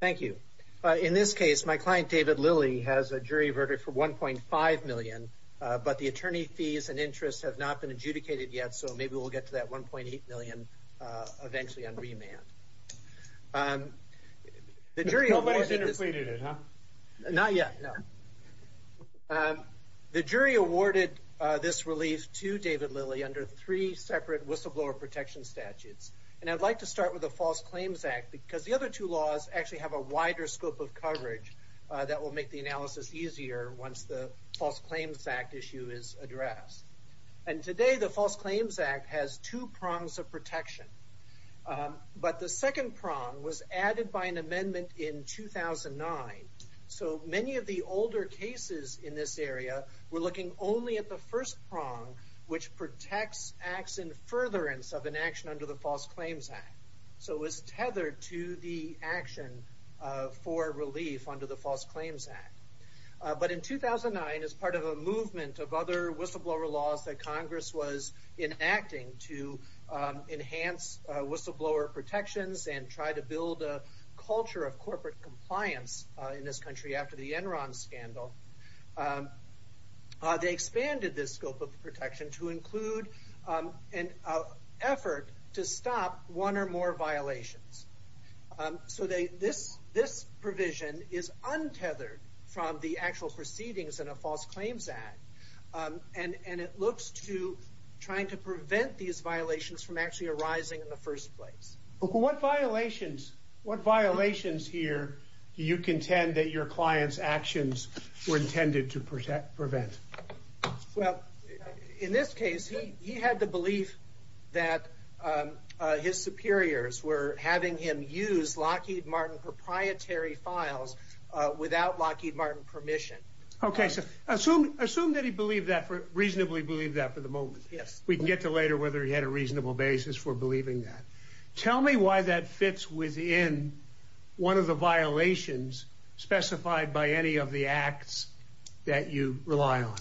Thank you. In this case, my client, David Lillie, has a jury verdict for $1.5 million, but the attorney fees and interests have not been adjudicated yet, so maybe we'll get to that $1.8 million eventually on remand. Not yet, no. The jury awarded this relief to David Lillie under three separate whistleblower protection statutes, and I'd like to start with the False Claims Act because the other two laws actually have a wider scope of coverage that will make the analysis easier once the False Claims Act issue is addressed. And today, the False Claims Act has two prongs of protection, but the second prong was added by an amendment in 2009, so many of the older cases in this area were looking only at the first prong, which protects acts in furtherance of an action under the False Claims Act. So it was tethered to the action for relief under the False Claims Act. But in 2009, as part of a movement of other whistleblower laws that Congress was enacting to enhance whistleblower protections and try to build a culture of corporate compliance in this country after the Enron scandal, they expanded this scope of protection to include an effort to stop one or more violations. So this provision is untethered from the actual proceedings in a False Claims Act, and it looks to trying to prevent these violations from actually arising in the first place. What violations here do you contend that your client's actions were intended to prevent? Well, in this case, he had the belief that his superiors were having him use Lockheed Martin proprietary files without Lockheed Martin permission. Okay, so assume that he reasonably believed that for the moment. Yes. We can get to later whether he had a reasonable basis for believing that. Tell me why that fits within one of the violations specified by any of the acts that you rely on.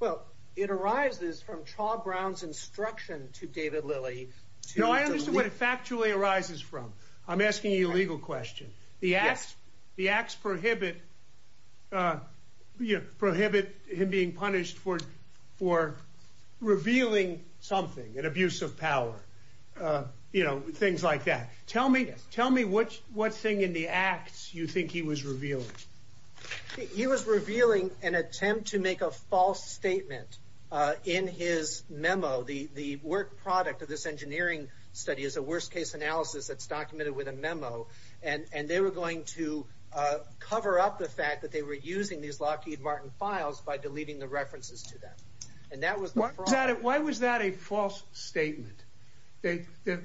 Well, it arises from Charles Brown's instruction to David Lilley. No, I understand what it factually arises from. I'm asking you a legal question. Yes. The acts prohibit him being punished for revealing something, an abuse of power. Things like that. Tell me what thing in the acts you think he was revealing. He was revealing an attempt to make a false statement in his memo. The work product of this engineering study is a worst case analysis that's documented with a memo, and they were going to cover up the fact that they were using these Lockheed Martin files by deleting the references to that. Why was that a false statement? You don't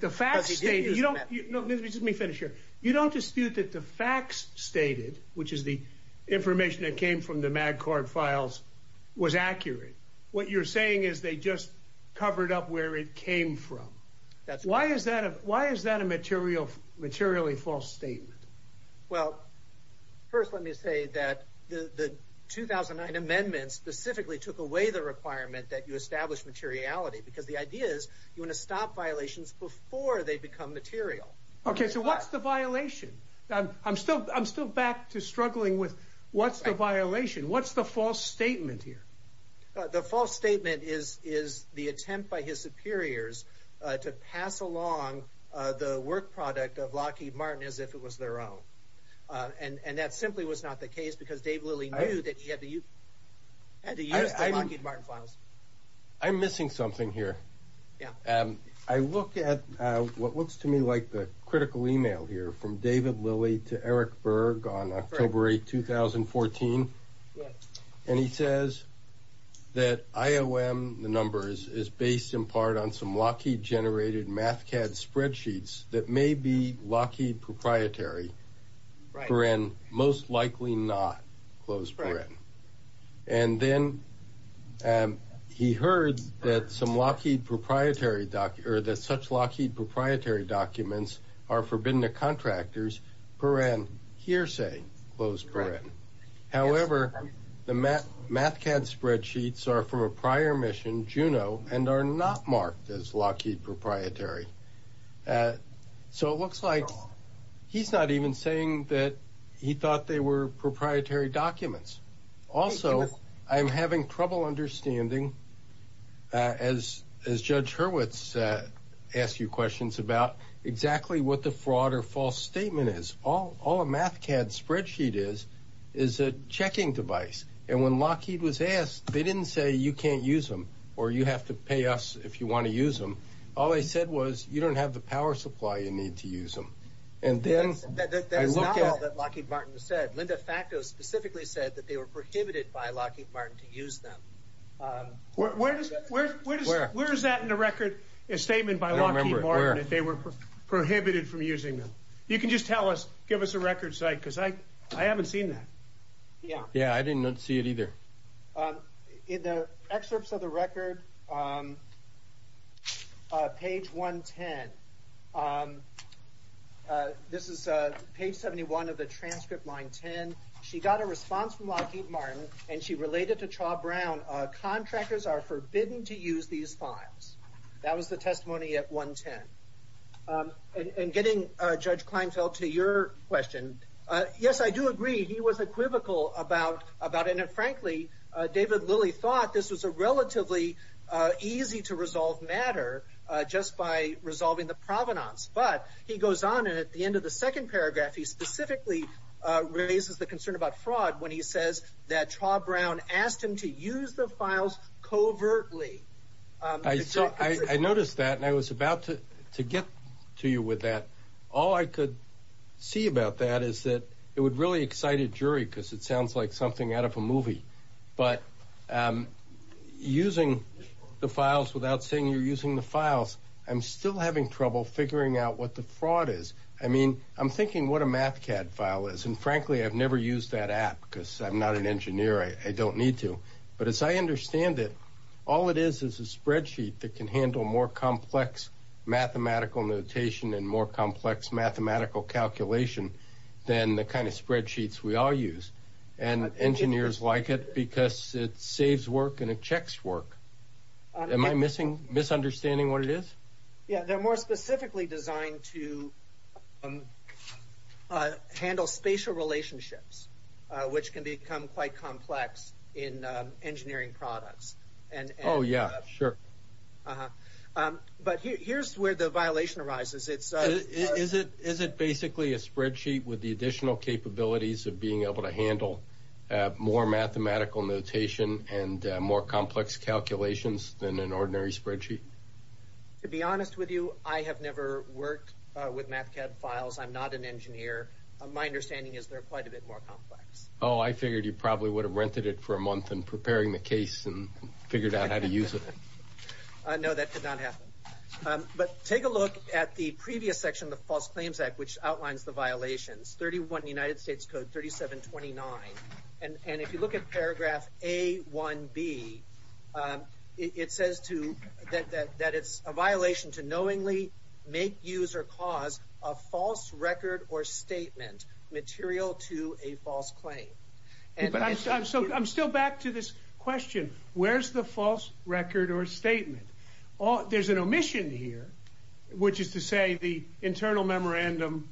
dispute that the facts stated, which is the information that came from the MagCorp files, was accurate. What you're saying is they just covered up where it came from. Why is that a materially false statement? Well, first let me say that the 2009 amendment specifically took away the requirement that you establish materiality because the idea is you want to stop violations before they become material. Okay, so what's the violation? I'm still back to struggling with what's the violation. What's the false statement here? The false statement is the attempt by his superiors to pass along the work product of Lockheed Martin as if it was their own, and that simply was not the case because Dave Lilly knew that he had to use the Lockheed Martin files. I'm missing something here. Yeah. I look at what looks to me like the critical email here from David Lilly to Eric Berg on October 8, 2014, and he says that IOM, the numbers, is based in part on some Lockheed generated Mathcad spreadsheets that may be Lockheed proprietary, most likely not. And then he heard that such Lockheed proprietary documents are forbidden to contractors, hearsay. However, the Mathcad spreadsheets are from a prior mission, Juno, and are not marked as Lockheed proprietary. So it looks like he's not even saying that he thought they were proprietary documents. Also, I'm having trouble understanding, as Judge Hurwitz asked you questions about, exactly what the fraud or false statement is. All a Mathcad spreadsheet is is a checking device, and when Lockheed was asked, they didn't say you can't use them or you have to use them. All they said was, you don't have the power supply you need to use them. And then... That's not all that Lockheed Martin said. Linda Facto specifically said that they were prohibited by Lockheed Martin to use them. Where is that in the record, a statement by Lockheed Martin, if they were prohibited from using them? You can just tell us, give us a record site, because I haven't seen that. Yeah, I didn't see it either. In the excerpts of the record, page 110. This is page 71 of the transcript, line 10. She got a response from Lockheed Martin, and she related to Chaw Brown, contractors are forbidden to use these files. That was the testimony at 110. And getting Judge Kleinfeld to your question, yes, I do agree, he was equivocal about... And frankly, David Lilly thought this was a relatively easy to resolve matter, just by resolving the provenance. But he goes on, and at the end of the second paragraph, he specifically raises the concern about fraud when he says that Chaw Brown asked him to use the files covertly. I noticed that, and I was about to get to you with that. All I could see about that is that it would really excite a jury, because it sounds like something out of a movie. But using the files without saying you're using the files, I'm still having trouble figuring out what the fraud is. I mean, I'm thinking what a Mathcad file is. And frankly, I've never used that app, because I'm not an engineer, I don't need to. But as I understand it, all it is is a spreadsheet that can handle more complex mathematical notation and more complex mathematical calculation than the kind of spreadsheets we all use. And engineers like it, because it saves work and it checks work. Am I misunderstanding what it is? Yeah, they're more specifically designed to handle spatial relationships, which can become quite complex in engineering products. Oh, yeah, sure. Uh-huh. But here's where the violation arises. Is it basically a spreadsheet with the additional capabilities of being able to handle more mathematical notation and more complex calculations than an ordinary spreadsheet? To be honest with you, I have never worked with Mathcad files. I'm not an engineer. My understanding is they're quite a bit more complex. Oh, I figured you probably would have rented it for a month in preparing the case and no, that did not happen. But take a look at the previous section of the False Claims Act, which outlines the violations. 31 United States Code 3729. And if you look at paragraph A1B, it says that it's a violation to knowingly make, use, or cause a false record or statement material to a false claim. But I'm still back to this question. Where's the false record or statement? There's an omission here, which is to say the internal memorandum,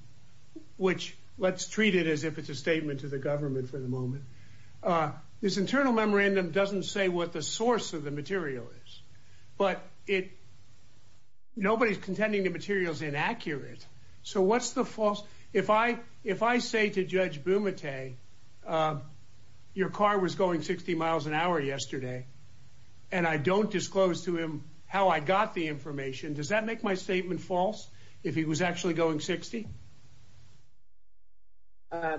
which let's treat it as if it's a statement to the government for the moment. This internal memorandum doesn't say what the source of the material is, but nobody's contending the material's inaccurate. So what's the false? If I say to Judge Bumate your car was going 60 miles an hour yesterday and I don't disclose to him how I got the information, does that make my statement false if he was actually going 60? I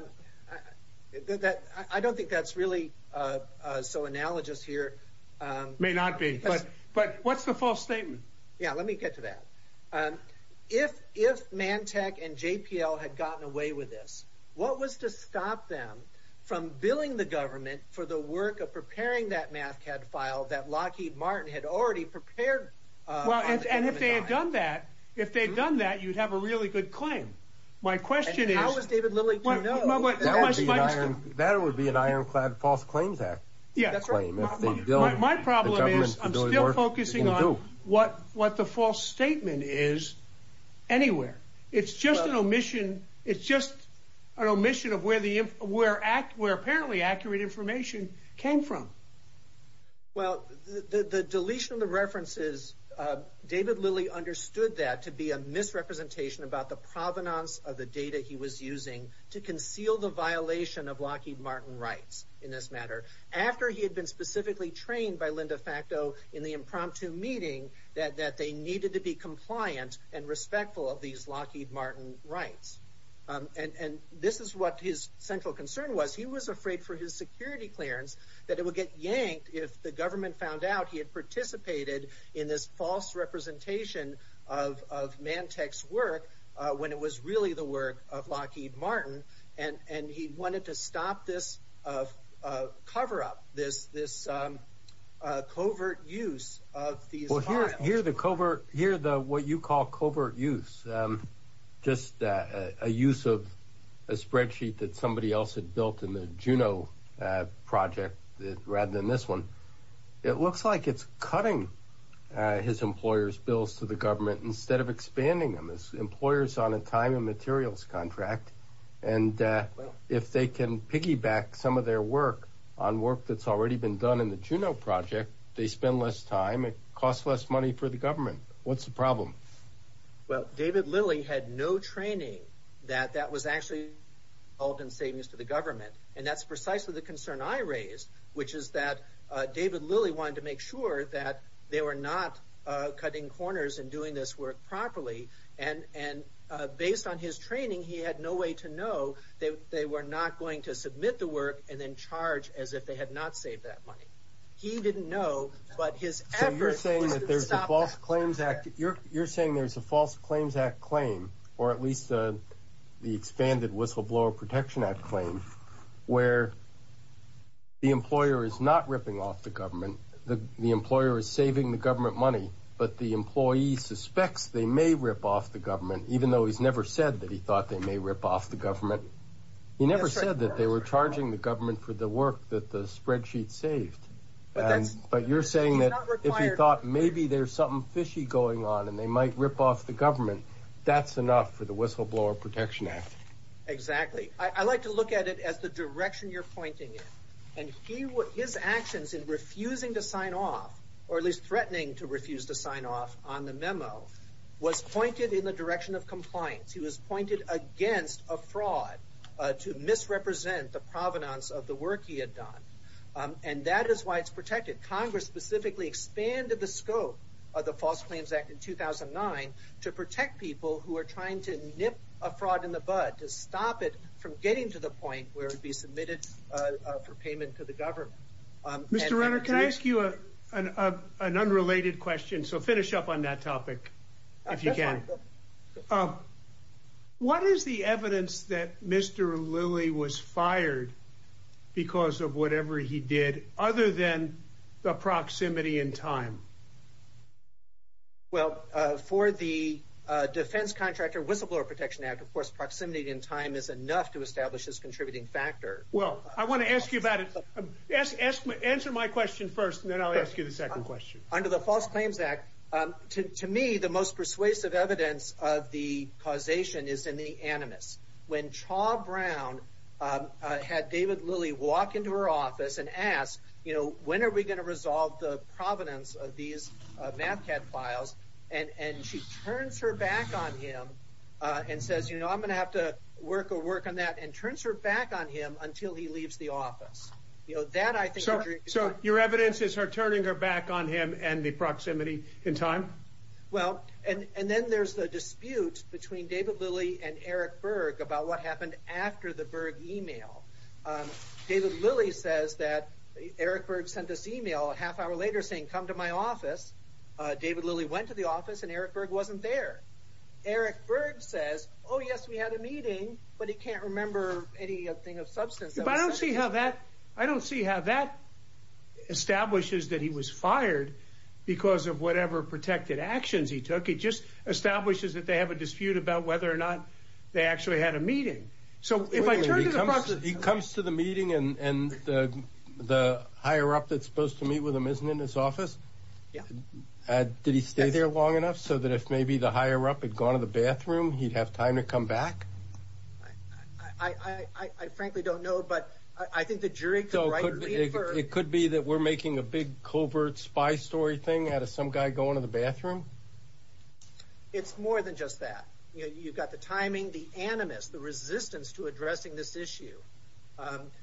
don't think that's really so analogous here. May not be, but what's the false statement? Yeah, let me get to that. If Mantech and JPL had gotten away with this, what was to stop them from billing the government for the work of preparing that MAFCAD file that Lockheed Martin had already prepared? Well, and if they had done that, if they'd done that, you'd have a really good claim. My question is- And how does David Lilley- That would be an ironclad false claims act. Yeah, that's right. My problem is I'm still focusing on what the false statement is anywhere. It's just an omission. It's just an omission of where apparently accurate information came from. Well, the deletion of the references, David Lilley understood that to be a misrepresentation about the provenance of the data he was using to conceal the violation of Lockheed Martin rights in this matter, after he had been specifically trained by Linda Facto in the impromptu meeting that they needed to be compliant and respectful of these Lockheed Martin rights. And this is what his central concern was. He was afraid for his security clearance that it would get yanked if the government found out he had participated in this false representation of Mantech's work when it was really the work of Lockheed Martin. And he wanted to stop this cover-up, this covert use of these files. Well, here the what you call covert use, just a use of a spreadsheet that somebody else had built in the Juno project rather than this one, it looks like it's cutting his employer's bills to the government instead of expanding them. This employer's on a time and materials contract and if they can piggyback some of their work on work that's already been done in the Juno project, they spend less time, it costs less money for the government. What's the problem? Well, David Lilley had no training that that was actually involved in savings to the government. And that's precisely the concern I raised, which is that David Lilley wanted to make sure that they were not cutting corners and doing this work properly. And based on his training, he had no way to know that they were not going to submit the work and then charge as if they had not saved that money. He didn't know, but his efforts to stop that were there. You're saying there's a False Claims Act claim, or at least the expanded Whistleblower Protection Act claim, where the employer is not ripping off the government, the employer is saving the government money, but the employee suspects they may rip off the government, even though he's never said that he thought they may rip off the government. He never said that they were charging the government for the work that the spreadsheet saved. But you're saying that if he thought maybe there's something fishy going on and they might rip off the government, that's enough for the Whistleblower Protection Act. Exactly. I like to look at it as the direction you're pointing in. And his actions in refusing to sign off, or at least threatening to refuse to sign off on the memo, was pointed in the direction of compliance. He was pointed against a fraud to misrepresent the provenance of the work he had done. And that is why it's protected. Congress specifically expanded the scope of the False Claims Act in 2009 to protect people who are trying to nip a fraud in the bud, to stop it from getting to the point where it'd be submitted for payment to the government. Mr. Renner, can I ask, what is the evidence that Mr. Lilly was fired because of whatever he did, other than the proximity in time? Well, for the Defense Contractor Whistleblower Protection Act, of course, proximity in time is enough to establish this contributing factor. Well, I want to ask you about it. Answer my question first, and then I'll ask you the second question. Under the False Claims Act, to me, the most persuasive evidence of the causation is in the animus. When Chaw Brown had David Lilly walk into her office and ask, you know, when are we going to resolve the provenance of these MAFCAD files? And she turns her back on him and says, you know, I'm going to have to work or work on that, and turns her back on him until he leaves the office. You know, that I think... So, your evidence is her turning her back on him and the proximity in time? Well, and then there's the dispute between David Lilly and Eric Berg about what happened after the Berg email. David Lilly says that Eric Berg sent this email a half hour later saying, come to my office. David Lilly went to the office and Eric Berg wasn't there. Eric Berg says, oh yes, we had a meeting, but he can't remember anything of substance. But I don't see how that establishes that he was fired because of whatever protected actions he took. It just establishes that they have a dispute about whether or not they actually had a meeting. So, if I turn to the... He comes to the meeting and the higher up that's supposed to meet with him isn't in his office? Yeah. Did he stay there long enough so that if maybe the higher up had gone to the bathroom, he'd have time to come back? I frankly don't know, but I think the jury could... So, it could be that we're making a big covert spy story thing out of some guy going to the bathroom? It's more than just that. You've got the timing, the animus, the resistance to addressing this issue,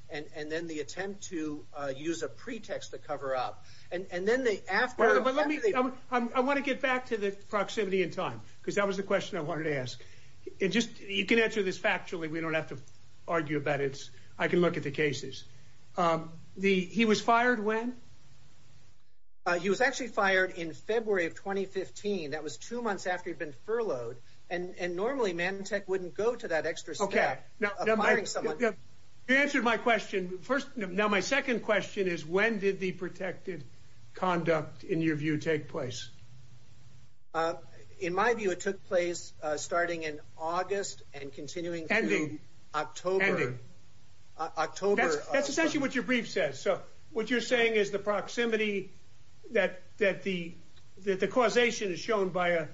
and then the attempt to use a pretext to cover up. And then they... I want to get back to the proximity and time, because that was the question I wanted to ask. You can answer this factually. We don't have to argue about it. I can look at the cases. He was fired when? He was actually fired in February of 2015. That was two months after he'd been furloughed. And normally, Manatech wouldn't go to that extra step of firing someone. You answered my question. Now, my second question is, when did the protected conduct, in your view, take place? In my view, it took place starting in August and continuing through October. That's essentially what your brief says. So, what you're saying is the proximity that the causation is shown by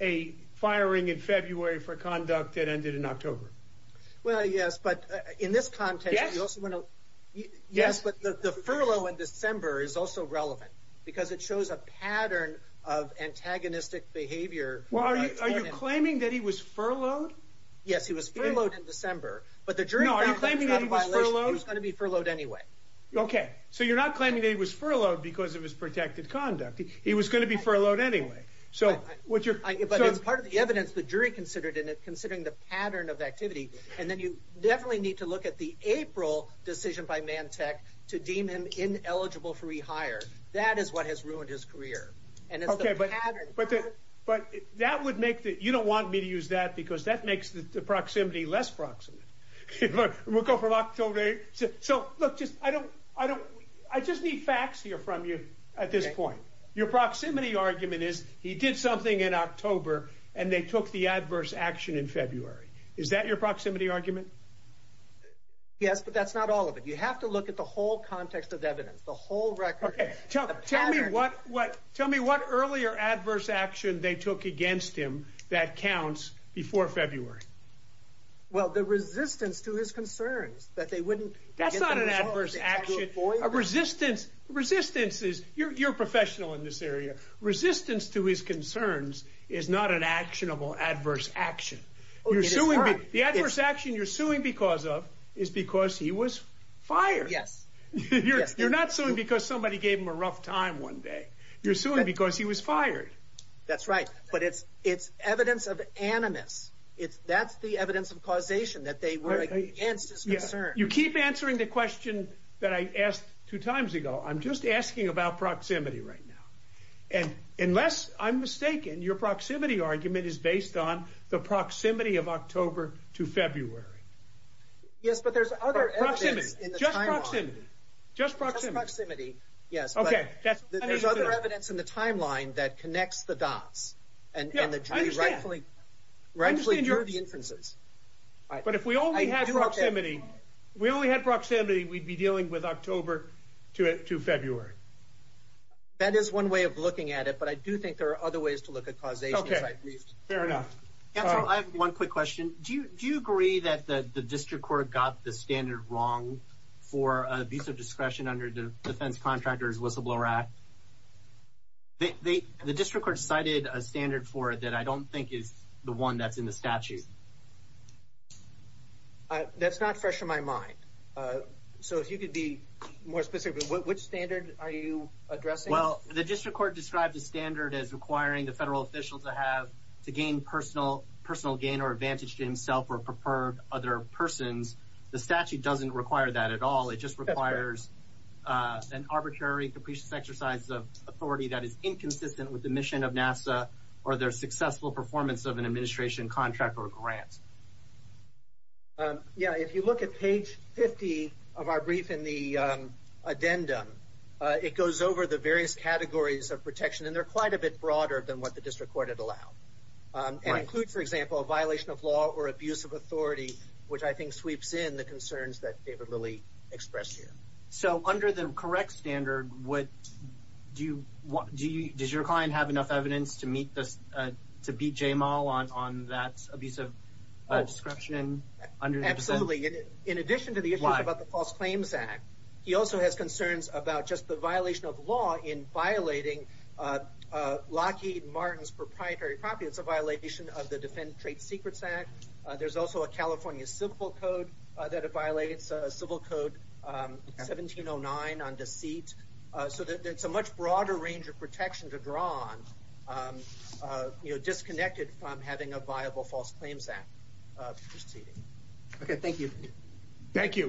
a firing in February for conduct that ended in October. Well, yes, but in this context, you also want to... Yes. Yes, but the furlough in December is also relevant, because it shows a pattern of antagonistic behavior. Well, are you claiming that he was furloughed? Yes, he was furloughed in December, but the jury... No, are you claiming that he was furloughed? He was going to be furloughed anyway. Okay, so you're not claiming that he was furloughed because of his protected conduct. He was going to be furloughed anyway. So, what you're... But as part of the evidence, the jury considered it, considering the pattern of activity, and then you definitely need to look at the April decision by Mantech to deem him ineligible for rehire. That is what has ruined his career. Okay, but that would make the... You don't want me to use that, because that makes the proximity less proximate. We'll go from October... So, look, I just need facts here from you at this point. Your proximity argument is, he did something in October, and they took the adverse action in February. Is that your proximity argument? Yes, but that's not all of it. You have to look at the whole context of evidence, the whole record... Okay, tell me what earlier adverse action they took against him that counts before February. Well, the resistance to his concerns that they wouldn't... That's not an adverse action. A resistance... Resistance is... You're a professional in this area. Resistance to his concerns is not an actionable adverse action. The adverse action you're suing because of is because he was fired. Yes. You're not suing because somebody gave him a rough time one day. You're suing because he was fired. That's right, but it's evidence of animus. That's the evidence of causation, that they were against his concerns. You keep answering the question that I asked two minutes ago. Yes, I'm mistaken. Your proximity argument is based on the proximity of October to February. Yes, but there's other evidence in the timeline. Proximity. Just proximity. Just proximity. Just proximity, yes. Okay, that's... There's other evidence in the timeline that connects the dots, and the jury rightfully drew the inferences. I understand. But if we only had proximity, we'd be dealing with October to February. That is one way of looking at it, but I do think there are other ways to look at causation. Okay, fair enough. Counsel, I have one quick question. Do you agree that the district court got the standard wrong for abuse of discretion under the Defense Contractors Whistleblower Act? The district court cited a standard for it that I don't think is the one that's in the statute. That's not fresh in my mind. So if you could be more specific, which standard are you addressing? Well, the district court described the standard as requiring the federal official to have, to gain personal gain or advantage to himself or preferred other persons. The statute doesn't require that at all. It just requires an arbitrary capricious exercise of authority that is inconsistent with the mission of NASA or their successful performance of an administration contract or grant. Yeah, if you look at page 50 of our brief in the addendum, it goes over the various categories of protection, and they're quite a bit broader than what the district court had allowed. It includes, for example, a violation of law or abuse of authority, which I think sweeps in the concerns that David Lilly expressed here. So under the correct standard, does your client have enough evidence to beat J-Mal on that abuse of discretion? Absolutely. In addition to the issue about the False Claims Act, he also has concerns about just violation of law in violating Lockheed Martin's proprietary property. It's a violation of the Defendant Trade Secrets Act. There's also a California Civil Code that violates Civil Code 1709 on deceit. So it's a much broader range of protection to draw on, disconnected from having a viable False Claims Act proceeding. Okay, thank you. Thank you.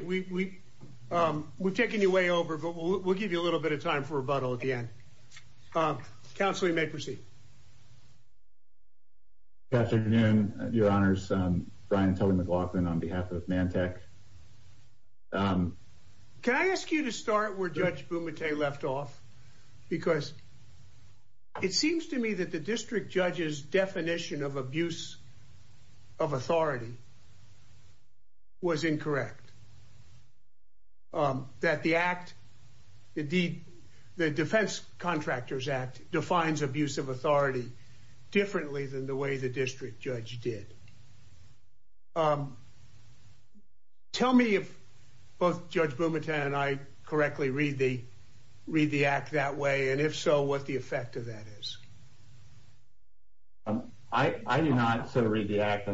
We've taken you way over, but we'll give you a little bit of time for rebuttal at the end. Counsel, you may proceed. Good afternoon, your honors. Brian Tully McLaughlin on behalf of Mantec. Can I ask you to start where Judge Bumate left off? Because it seems to me that the district judge's definition of abuse of authority was incorrect. That the act, the Defense Contractors Act, defines abuse of authority differently than the way the district judge did. Tell me if both Judge Bumate and I correctly read the act that way, and if so, what the effect of that is. I do not read the act.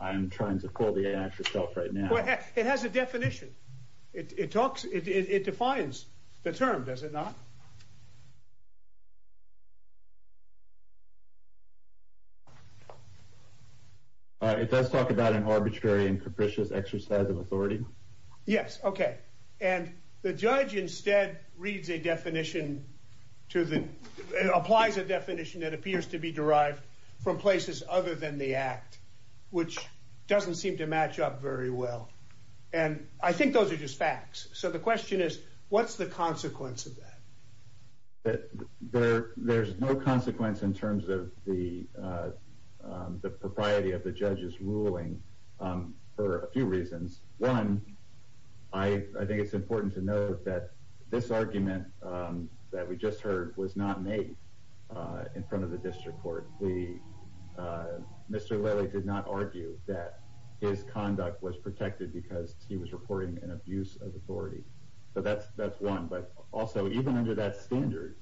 I'm trying to pull the act yourself right now. It has a definition. It defines the term, does it not? It does talk about an arbitrary and capricious exercise of authority. Yes, okay. And the judge instead reads a definition to the, applies a definition that appears to be derived from places other than the act, which doesn't seem to match up very well. And I think those are just facts. So the question is, what's the consequence of that? There's no consequence in terms of the propriety of the judge's ruling for a few reasons. One, I think it's important to note that this argument that we just heard was not made in front of the district court. Mr. Lely did not argue that his conduct was protected because he was reporting an abuse of authority. So that's one. But also, even under that standard,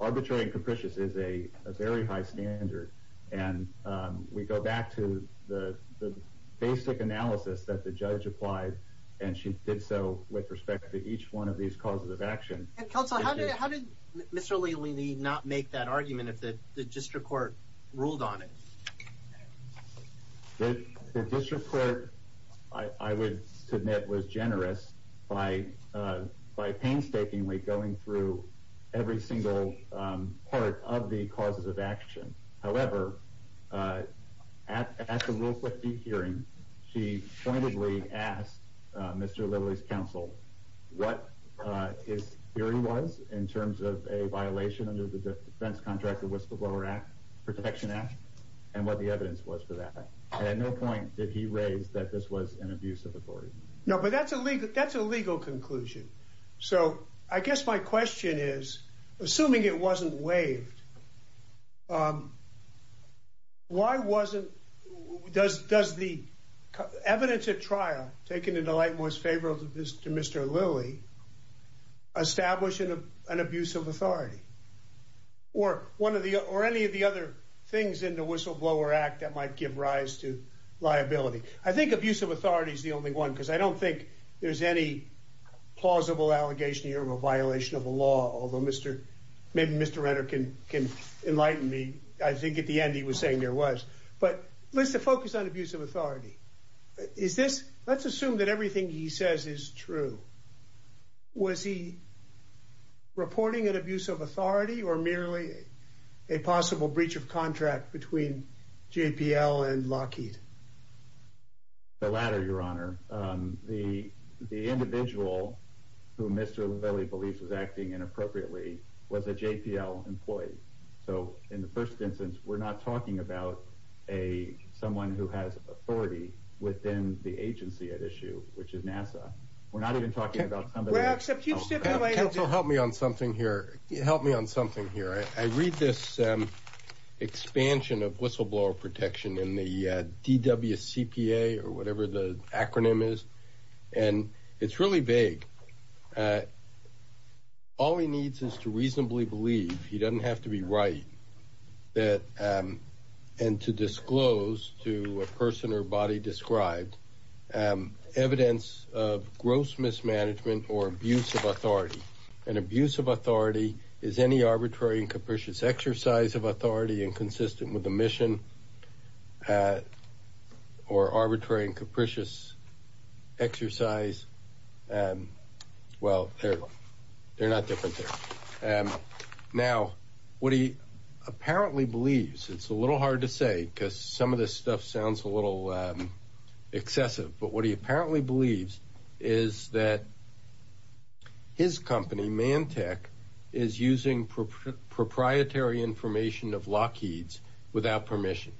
arbitrary and capricious is a very high standard. And we go back to the basic analysis that the and she did so with respect to each one of these causes of action. Counsel, how did Mr. Lely not make that argument if the district court ruled on it? The district court, I would submit, was generous by painstakingly going through every single part of the causes of action. However, at the real quick hearing, she pointedly asked Mr. Lely's counsel what his theory was in terms of a violation under the Defense Contract of Whistleblower Act Protection Act and what the evidence was for that. And at no point did he raise that this was an abuse of authority. No, but that's a legal conclusion. So I guess my question is, assuming it wasn't waived, why wasn't, does the evidence at trial, taken in the light most favorable to Mr. Lely, establish an abuse of authority? Or any of the other things in the Whistleblower Act that might give rise to liability? I think abuse of authority is the only one, because I don't think there's any plausible allegation here of a violation of the law, although maybe Mr. Renter can enlighten me. I think at the end he was saying there was. But let's focus on abuse of authority. Is this, let's assume that everything he says is true. Was he reporting an abuse of authority, or merely a possible breach of contract between JPL and Lockheed? The latter, your honor. The individual who Mr. Lely believes was acting inappropriately was a JPL employee. So in the first instance, we're not talking about someone who has authority within the agency at issue, which is NASA. We're not even talking about somebody. Well, except you said nobody else. Counsel, help me on something here. Help me on something here. I read this expansion of whistleblower protection in the DWCPA, or whatever the acronym is, and it's really vague. All he needs is to reasonably believe, he doesn't have to be right, that, and to disclose to a person or body described, evidence of gross mismanagement or abuse of authority. An abuse of authority is any arbitrary and capricious exercise of authority and consistent with a mission, or arbitrary and capricious exercise. Well, they're not different things. Now, what he apparently believes, it's a little hard to say, because some of this stuff sounds a little excessive, but what he apparently believes is that his company, Mantek, is using proprietary information of Lockheed's without permission.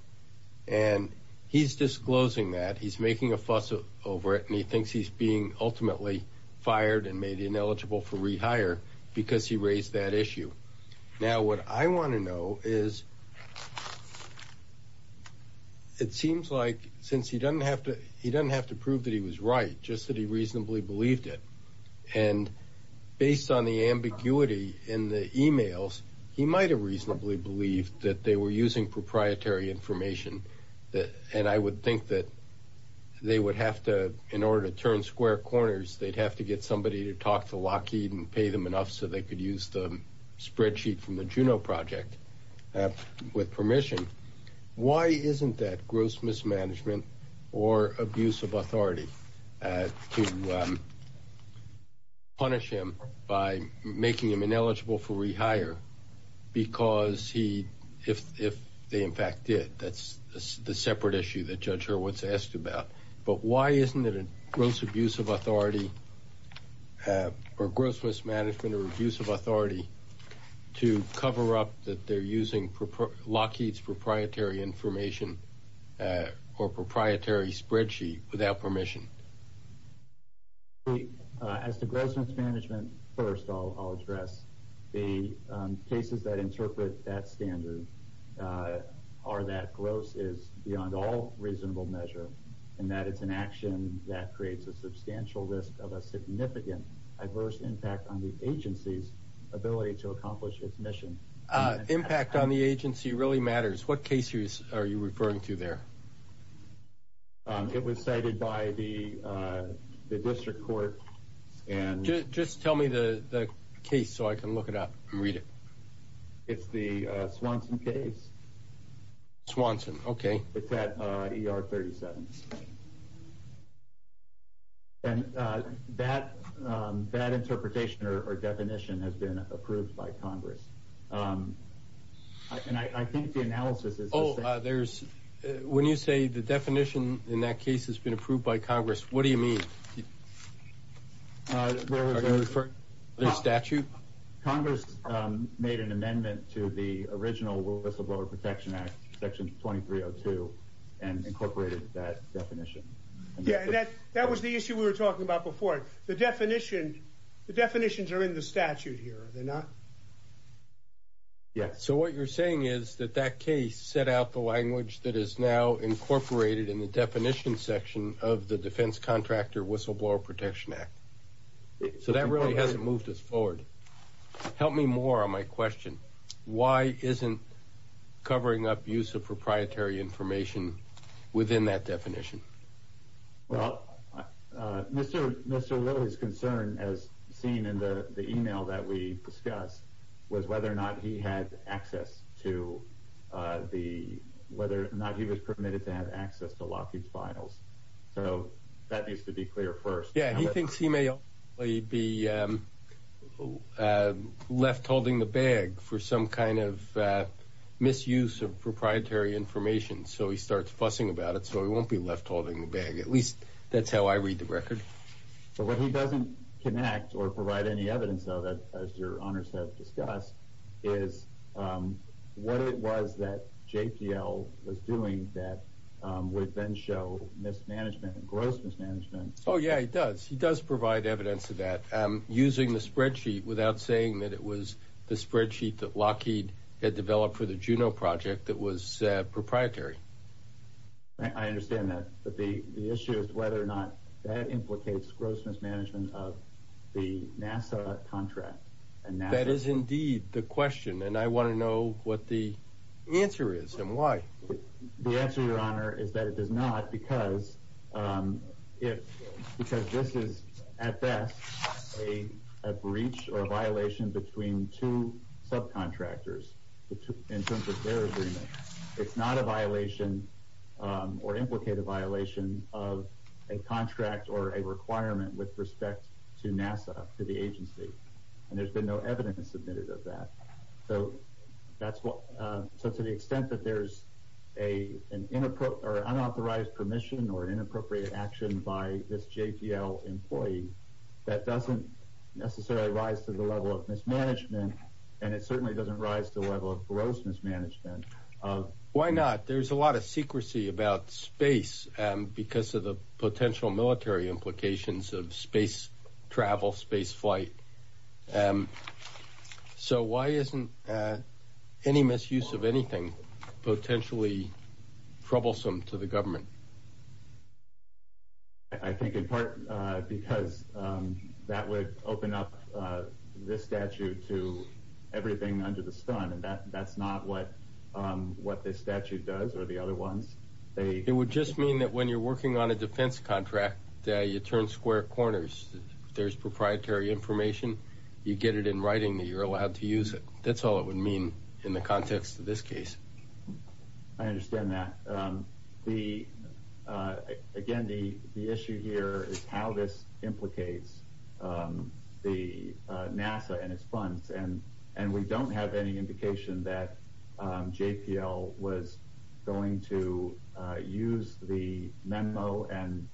And he's disclosing that, he's making a fuss over it, and he thinks he's being ultimately fired and made ineligible for rehire, because he raised that issue. Now, what I want to know is, it seems like, since he doesn't have to, he doesn't have to prove that he was right, just that he reasonably believed it, and based on the ambiguity in the emails, he might have reasonably believed that they were using proprietary information, and I would think that they would have to, in order to turn square corners, they'd have to get somebody to talk to Lockheed and pay them enough so they could use the spreadsheet from the Juno project with permission. Why isn't that gross mismanagement or abuse of authority to punish him by making him ineligible for rehire, because he, if they in fact did, that's the separate issue that Judge Hurwitz asked about, but why isn't it a gross abuse of authority or gross mismanagement or abuse of authority to cover up that they're using Lockheed's proprietary information or proprietary spreadsheet without permission? As to gross mismanagement, first I'll address the cases that interpret that standard are that gross is beyond all reasonable measure, and that it's an action that creates a substantial risk of a significant adverse impact on the agency's ability to accomplish its mission. Impact on the agency really matters. What case are you referring to there? It was cited by the district court and... Just tell me the case so I can look it up and read it. It's the Swanson case. Swanson, okay. It's at ER 37, and that interpretation or definition has been approved by Congress, and I think the analysis is... Oh, there's... When you say the definition in that case has been approved by Congress, what do you mean? Are you referring to their statute? Congress made an amendment to the original Whistleblower Protection Act, Section 2302, and incorporated that definition. Yeah, that was the issue we were talking about before. The definitions are in the statute here, are they not? Yeah. So what you're saying is that that case set out the language that is now incorporated in the definition section of the Defense Contractor Whistleblower Protection Act. So that really hasn't moved us forward. Help me more on my question. Why isn't covering up use of proprietary information within that definition? Well, Mr. Lilly's concern, as seen in the email that we discussed, was whether or not he had access to the... Whether or not he was permitted to have access to Lockheed's files. So that needs to be clear first. Yeah, he thinks he may be left holding the bag for some kind of misuse of proprietary information. So he starts fussing about it, so he won't be left holding the bag. At least, that's how I read the record. But what he doesn't connect or provide any evidence of, as your honors have discussed, is what it was that JPL was doing that would then show mismanagement, gross mismanagement. Oh yeah, he does. He does provide evidence of that using the spreadsheet without saying that it was the spreadsheet that Lockheed had developed for the Juno project that was proprietary. I understand that, but the issue is whether or not that implicates gross mismanagement of the NASA contract. That is indeed the question, and I want to know what the answer is and why. The answer, your honor, is that it does not because this is, at best, a breach or a violation between two subcontractors in terms of their agreement. It's not a violation or implicated violation of a contract or a requirement with respect to NASA, to the agency. And there's been no evidence submitted of that. So to the extent that there's an unauthorized permission or inappropriate action by this JPL employee, that doesn't necessarily rise to the level of mismanagement, and it certainly doesn't rise to the level of gross mismanagement. Why not? There's a lot of secrecy about space because of the potential military implications of space travel, space flight. And so why isn't any misuse of anything potentially troublesome to the government? I think in part because that would open up this statute to everything under the stun. And that's not what this statute does or the other ones. It would just mean that when you're working on a defense contract, you turn square corners. There's proprietary information. You get it in writing that you're allowed to use it. That's all it would mean in the context of this case. I understand that. Again, the issue here is how this implicates the NASA and its funds. And we don't have any indication that JPL was going to use the memo and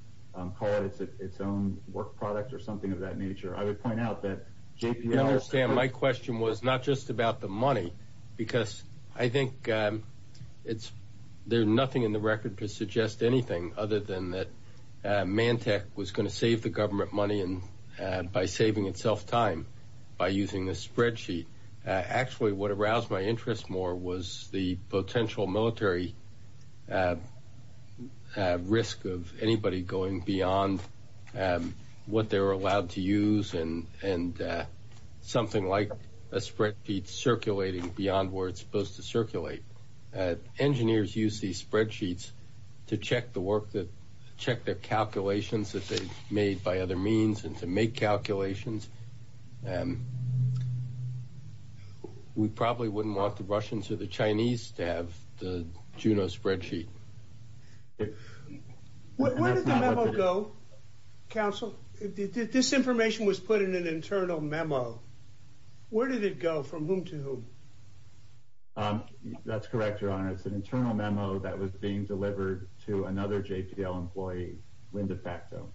call it its own work product or something of that nature. I would point out that JPL... I understand. My question was not just about the money, because I think there's nothing in the record to suggest anything other than that Mantec was going to save the government money by saving itself time by using this spreadsheet. Actually, what aroused my interest more was the potential military and risk of anybody going beyond what they're allowed to use and something like a spreadsheet circulating beyond where it's supposed to circulate. Engineers use these spreadsheets to check their calculations that they've made by other means and to make calculations. And we probably wouldn't want the Russians or the Chinese to have the Juno spreadsheet. Where did the memo go, Counsel? This information was put in an internal memo. Where did it go? From whom to whom? That's correct, Your Honor. It's an internal memo that was being delivered to another JPL employee, Linda Facto.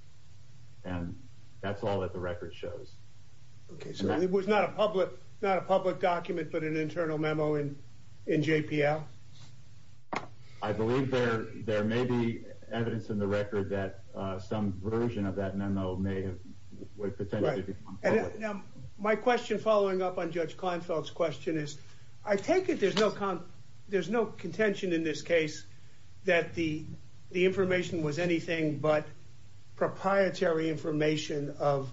And that's all that the record shows. Okay, so it was not a public document, but an internal memo in JPL? I believe there may be evidence in the record that some version of that memo may have... Now, my question following up on Judge Kleinfeld's question is, I take it there's no contention in this case that the information was anything but proprietary information of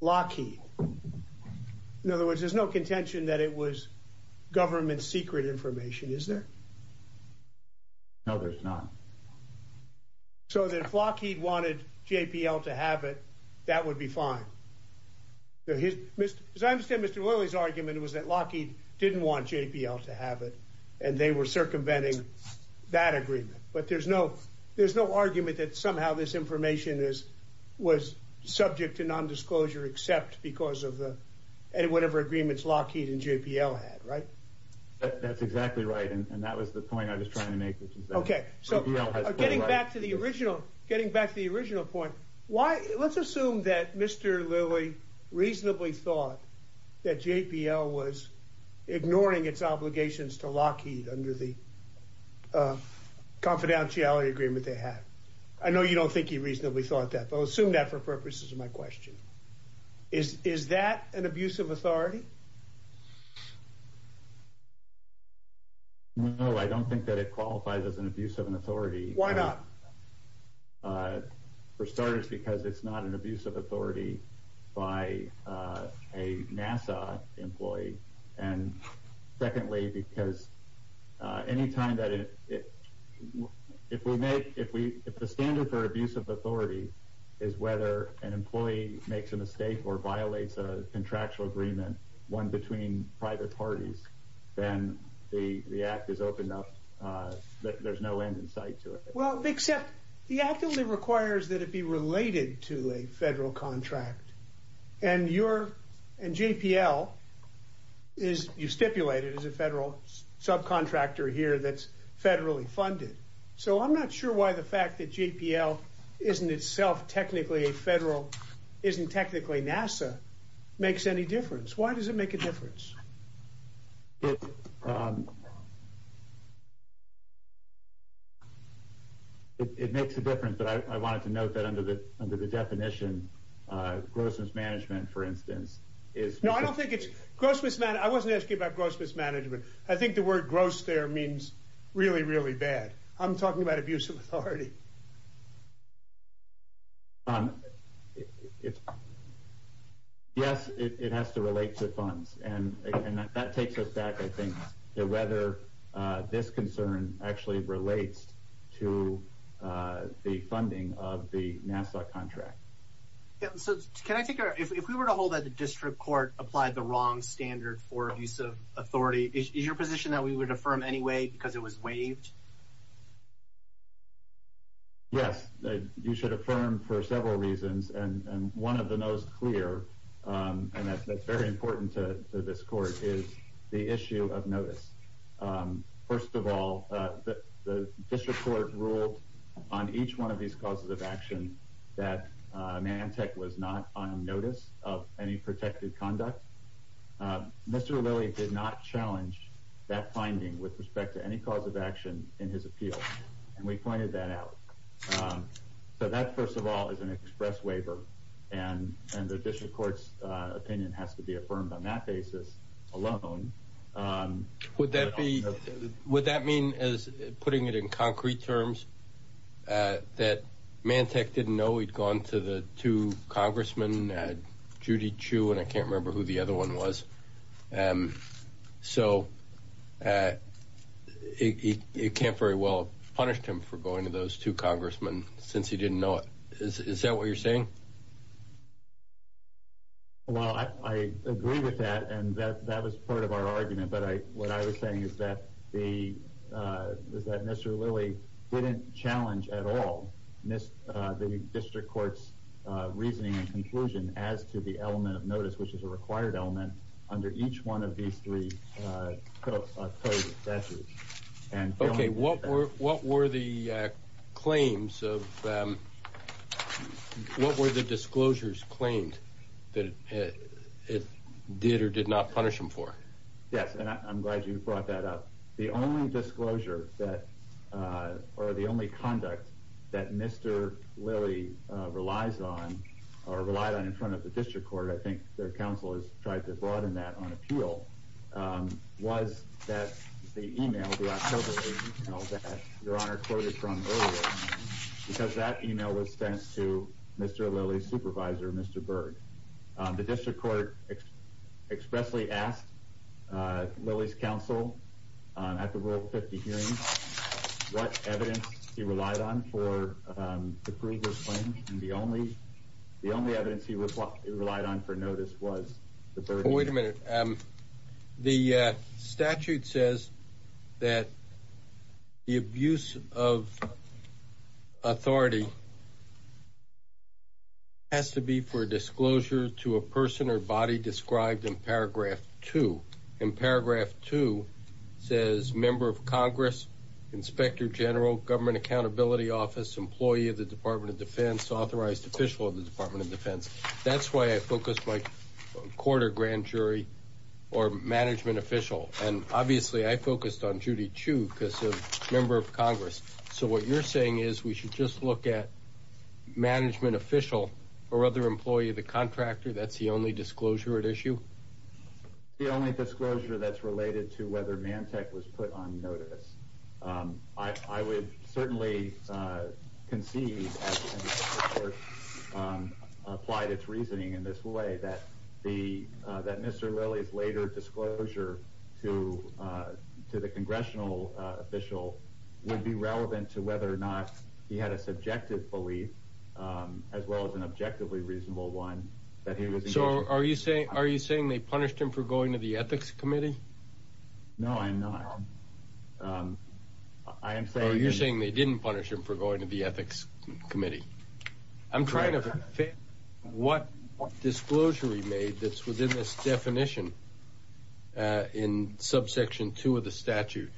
Lockheed. In other words, there's no contention that it was government secret information, is there? No, there's not. So if Lockheed wanted JPL to have it, that would be fine. As I understand, Mr. Lilley's argument was that Lockheed didn't want JPL to have it, and they were circumventing that agreement. But there's no argument that somehow this information was subject to non-disclosure except because of whatever agreements Lockheed and JPL had, right? That's exactly right, and that was the point I was trying to make. Okay, so getting back to the original point, let's assume that Mr. Lilley reasonably thought that JPL was ignoring its obligations to Lockheed under the confidentiality agreement they had. I know you don't think he reasonably thought that, but I'll assume that for purposes of my question. Is that an abuse of authority? No, I don't think that it qualifies as an abuse of an authority. Why not? Well, for starters, because it's not an abuse of authority by a NASA employee. And secondly, because any time that it – if we make – if the standard for abuse of authority is whether an employee makes a mistake or violates a contractual agreement, one between private parties, then the act is opened up. There's no end in sight to it. Well, except the act only requires that it be related to a federal contract. And you're – and JPL is – you stipulate it as a federal subcontractor here that's federally funded. So I'm not sure why the fact that JPL isn't itself technically a federal – isn't technically NASA makes any difference. Why does it make a difference? It makes a difference, but I wanted to note that under the definition, gross mismanagement, for instance, is – No, I don't think it's – gross mismanagement – I wasn't asking about gross mismanagement. I think the word gross there means really, really bad. I'm talking about abuse of authority. Yes, it has to relate to funds. And that takes us back, I think, to whether this concern actually relates to the funding of the NASA contract. So can I take our – if we were to hold that the district court applied the wrong standard for abuse of authority, is your position that we would affirm anyway because it was waived? Yes, you should affirm for several reasons. And one of the most clear, and that's very important to this court, is the issue of notice. First of all, the district court ruled on each one of these causes of action that Mantec was not on notice of any protected conduct. Mr. Lilley did not challenge that finding with respect to any cause of action in his appeal, and we pointed that out. So that, first of all, is an express waiver, and the district court's opinion has to be – would that mean as – putting it in concrete terms – that Mantec didn't know he'd gone to the two congressmen, Judy Chu, and I can't remember who the other one was. So it can't very well have punished him for going to those two congressmen since he didn't know it. Is that what you're saying? Well, I agree with that, and that was part of our argument. But what I was saying is that Mr. Lilley didn't challenge at all the district court's reasoning and conclusion as to the element of notice, which is a required element, under each one of these three codes of statute. Okay, what were the claims of – what were the disclosures claimed that it did or did not punish him for? Yes, and I'm glad you brought that up. The only disclosure that – or the only conduct that Mr. Lilley relies on or relied on in front of the district court – I think their email, the October email that Your Honor quoted from earlier, because that email was sent to Mr. Lilley's supervisor, Mr. Berg. The district court expressly asked Lilley's counsel at the Rule 50 hearing what evidence he relied on for approval of claims, and the only evidence he relied on for notice was the Berg claim. Wait a minute. The statute says that the abuse of authority has to be for disclosure to a person or body described in paragraph 2. In paragraph 2, it says, Member of Congress, Inspector General, Government Accountability Office, Employee of the Department of Defense, Authorized Official of the Department of Defense. That's why I focused my court or grand jury or management official. And obviously, I focused on Judy Chu because she's a member of Congress. So what you're saying is we should just look at management official or other employee of the contractor? That's the only disclosure at issue? The only disclosure that's related to whether Mantech was put on notice. I would certainly concede, as the district court applied its reasoning in this way, that Mr. Lilley's later disclosure to the congressional official would be relevant to whether or not he had a subjective belief, as well as an objectively reasonable one, that he was engaged in. So are you saying they punished him for going to the ethics committee? No, I'm not. I am saying... Oh, you're saying they didn't punish him for going to the ethics committee. I'm trying to fit what disclosure he made that's within this definition in subsection two of the statute,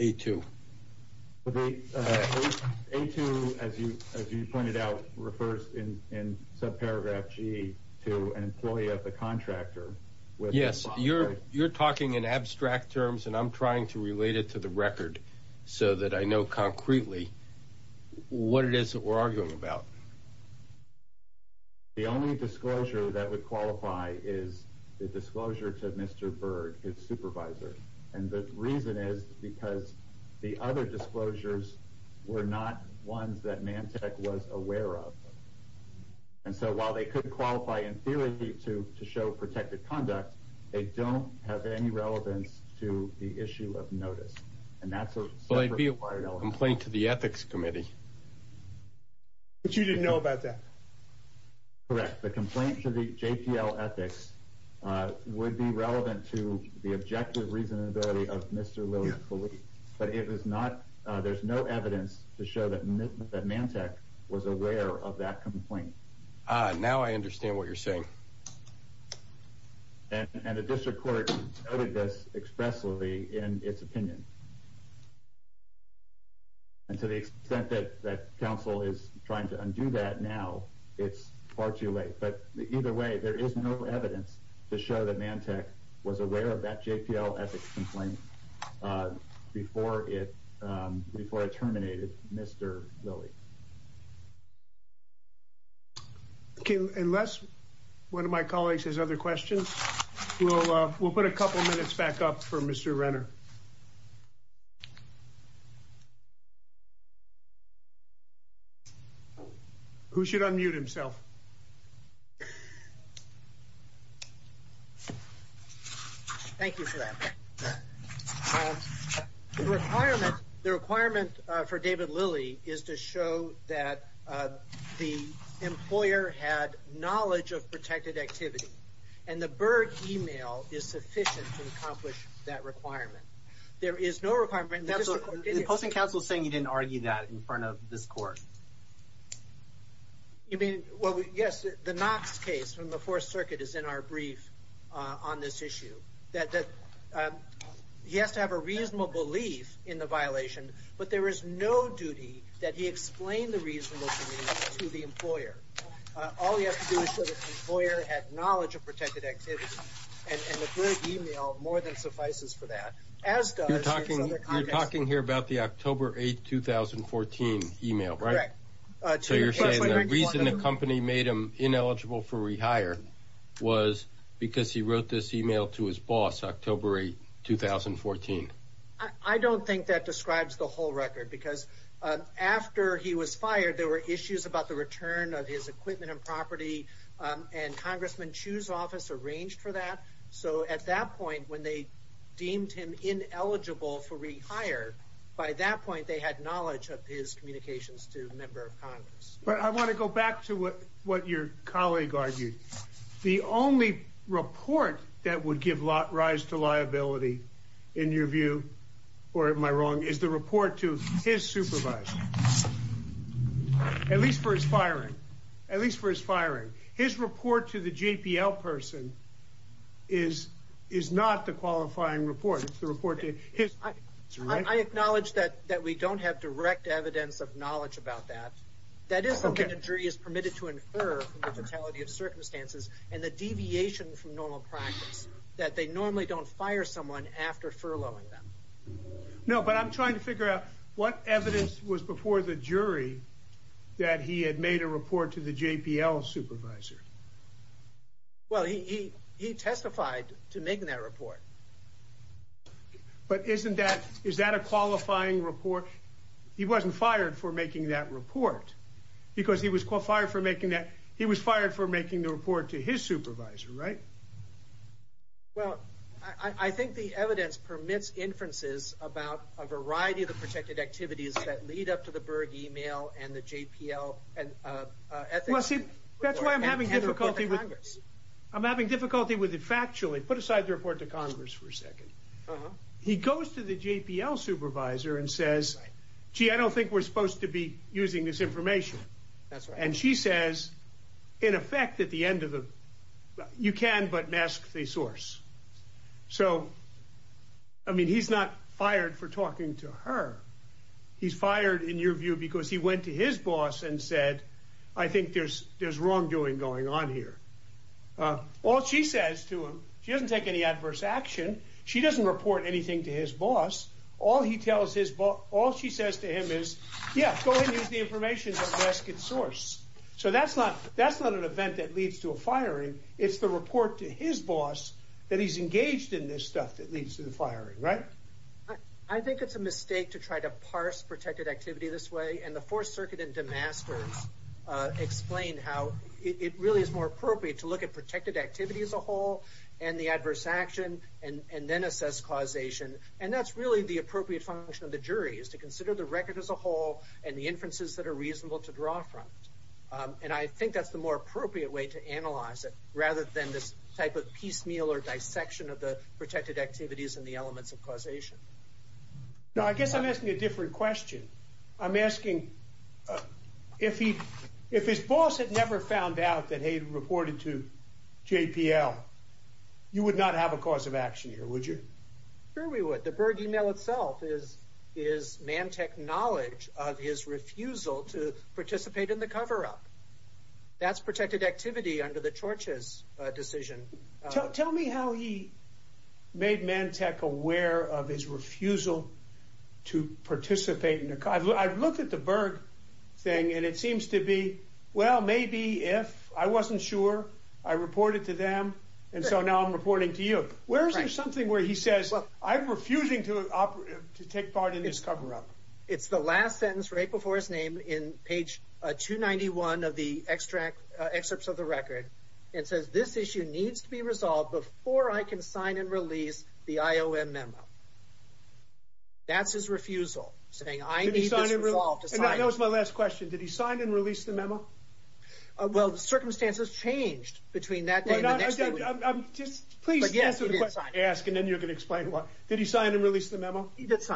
A2. A2, as you pointed out, refers in subparagraph G to an employee of the contractor. Yes, you're talking in abstract terms and I'm trying to relate it to the record so that I know concretely what it is that we're arguing about. The only disclosure that would qualify is the disclosure to Mr. Berg, his supervisor. And the reason is because the other disclosures were not ones that Mantech was aware of. And so while they could qualify in theory to show protected conduct, they don't have any relevance to the issue of notice. And that's a separate... Well, I'd be a compliant to the ethics committee. But you didn't know about that? Correct. The complaint to the JPL ethics would be relevant to the objective reasonability of Mr. Lilly. But it was not. There's no evidence to show that Mantech was aware of that complaint. Now I understand what you're saying. And the district court noted this expressly in its opinion. And to the extent that that council is trying to undo that now, it's far too late. But either way, there is no evidence to show that Mantech was aware of that JPL ethics complaint before it terminated Mr. Lilly. Okay, unless one of my colleagues has other questions, we'll put a couple minutes back up for Mr. Renner. Who should unmute himself? Thank you for that. The requirement for David Lilly is to show that the employer had knowledge of protected activity. And the Berg email is sufficient to accomplish that requirement. There is no requirement... The Posting Council is saying you didn't argue that in front of this court. I mean, well, yes, the Knox case from the Fourth Circuit is in our brief on this issue. He has to have a reasonable belief in the violation, but there is no duty that he explain the reasonable belief to the employer. All he has to do is show the employer had knowledge of protected activity. And the Berg email more than suffices for that. As does... You're talking here about the October 8, 2014 email, right? So you're saying the reason the company made him ineligible for rehire was because he wrote this email to his boss October 8, 2014. I don't think that describes the whole record because after he was fired, there were issues about the return of his equipment and property. And Congressman Chu's office arranged for that. So at that point, when they deemed him ineligible for rehire, by that point, they had knowledge of his communications to a member of Congress. But I want to go back to what your colleague argued. The only report that would give rise to liability in your view, or am I wrong, is the report to his supervisor. At least for his firing. At least for his firing. His report to the JPL person is not the qualifying report. It's the report to his... I acknowledge that we don't have direct evidence of knowledge about that. That is something the jury is permitted to infer from the fatality of circumstances and the deviation from normal practice, that they normally don't fire someone after furloughing them. No, but I'm trying to figure out what evidence was before the jury that he had made a report to the JPL supervisor. Well, he testified to making that report. But isn't that, is that a qualifying report? He wasn't fired for making that report because he fired for making that. He was fired for making the report to his supervisor, right? Well, I think the evidence permits inferences about a variety of the protected activities that lead up to the Berg email and the JPL. Well, see, that's why I'm having difficulty. I'm having difficulty with it factually. Put aside the report to Congress for a second. He goes to the JPL supervisor and says, gee, I don't think we're supposed to be using this information. And she says, in effect, at the end of the, you can but mask the source. So, I mean, he's not fired for talking to her. He's fired in your view because he went to his boss and said, I think there's wrongdoing going on here. All she says to him, she doesn't take any adverse action. She doesn't report anything to his boss. All he tells his boss, all she says to him is, yeah, go ahead and use the information to mask its source. So that's not an event that leads to a firing. It's the report to his boss that he's engaged in this stuff that leads to the firing, right? I think it's a mistake to try to parse protected activity this way. And the Fourth Circuit and DeMasters explain how it really is more appropriate to look at protected activity as a whole and the adverse action and then assess causation. And that's really the appropriate function of the jury is to consider the record as a whole and the inferences that are reasonable to draw from it. And I think that's the more appropriate way to analyze it rather than this type of piecemeal or dissection of the protected activities and the elements of causation. Now, I guess I'm asking a different question. I'm asking, if his boss had never found out that he reported to JPL, you would not have a cause of action here, would you? Sure we would. The Berg email itself is Mantek knowledge of his refusal to participate in the cover-up. That's protected activity under the Church's decision. Tell me how he made Mantek aware of his refusal to participate in the cover-up. I've looked at the Berg thing and it seems to be, well, maybe if I wasn't sure, I reported to them. And so now I'm reporting to you. Where is there something where he says, I'm refusing to take part in this cover-up? It's the last sentence right before his name in page 291 of the excerpts of the record. It says, this issue needs to be resolved before I can sign and release the IOM memo. That's his refusal, saying I need this resolved. And that was my last question. Did he sign and release the memo? He did sign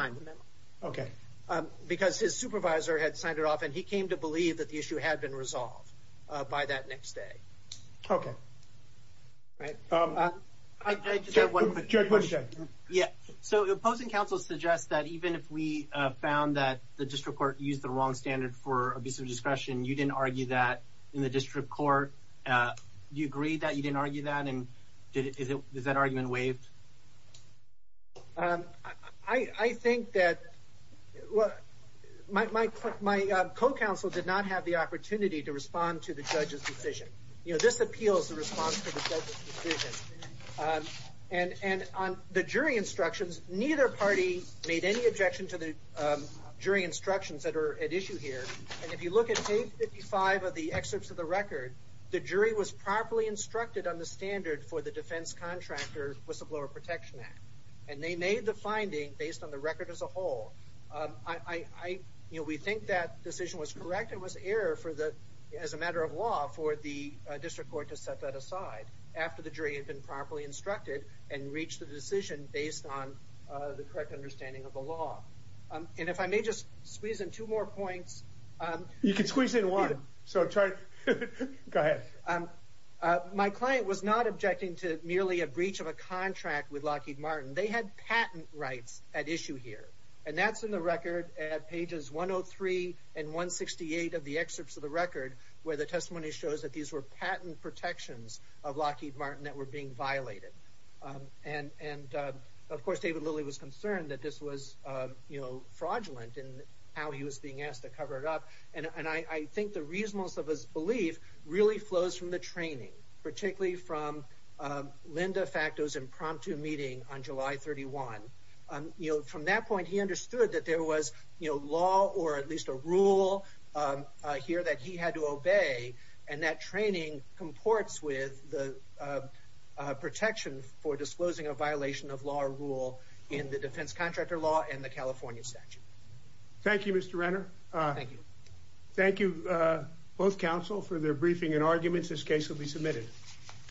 the memo. Because his supervisor had signed it off and he came to believe that the issue had been resolved by that next day. So the opposing counsel suggests that even if we found that the district court used the wrong standard for abuse of discretion, you didn't argue that in the district court. Do you agree that you didn't argue that and does that argument waive? I think that, well, my co-counsel did not have the opportunity to respond to the judge's decision. This appeals the response to the judge's decision. And on the jury instructions, neither party made any objection to the jury instructions that are at issue here. And if you look at page 55 of the excerpts of the record, the jury was properly instructed on the standard for the defense contractor whistleblower protection act. And they made the finding based on the record as a whole. I, you know, we think that decision was correct. It was error for the, as a matter of law, for the district court to set that aside after the jury had been properly instructed and reached the decision based on the correct understanding of the law. And if I may just squeeze in two more points. You can squeeze in one. So go ahead. My client was not objecting to merely a breach of a contract with Lockheed Martin. They had patent rights at issue here. And that's in the record at pages 103 and 168 of the excerpts of the record where the testimony shows that these were patent protections of Lockheed Martin that were being violated. And of course, David Lilly was concerned that this was, you know, I think the reasonableness of his belief really flows from the training, particularly from Linda Facto's impromptu meeting on July 31. You know, from that point, he understood that there was, you know, law or at least a rule here that he had to obey. And that training comports with the protection for disclosing a violation of law or rule in the defense contractor law and the both counsel for their briefing and arguments. This case will be submitted.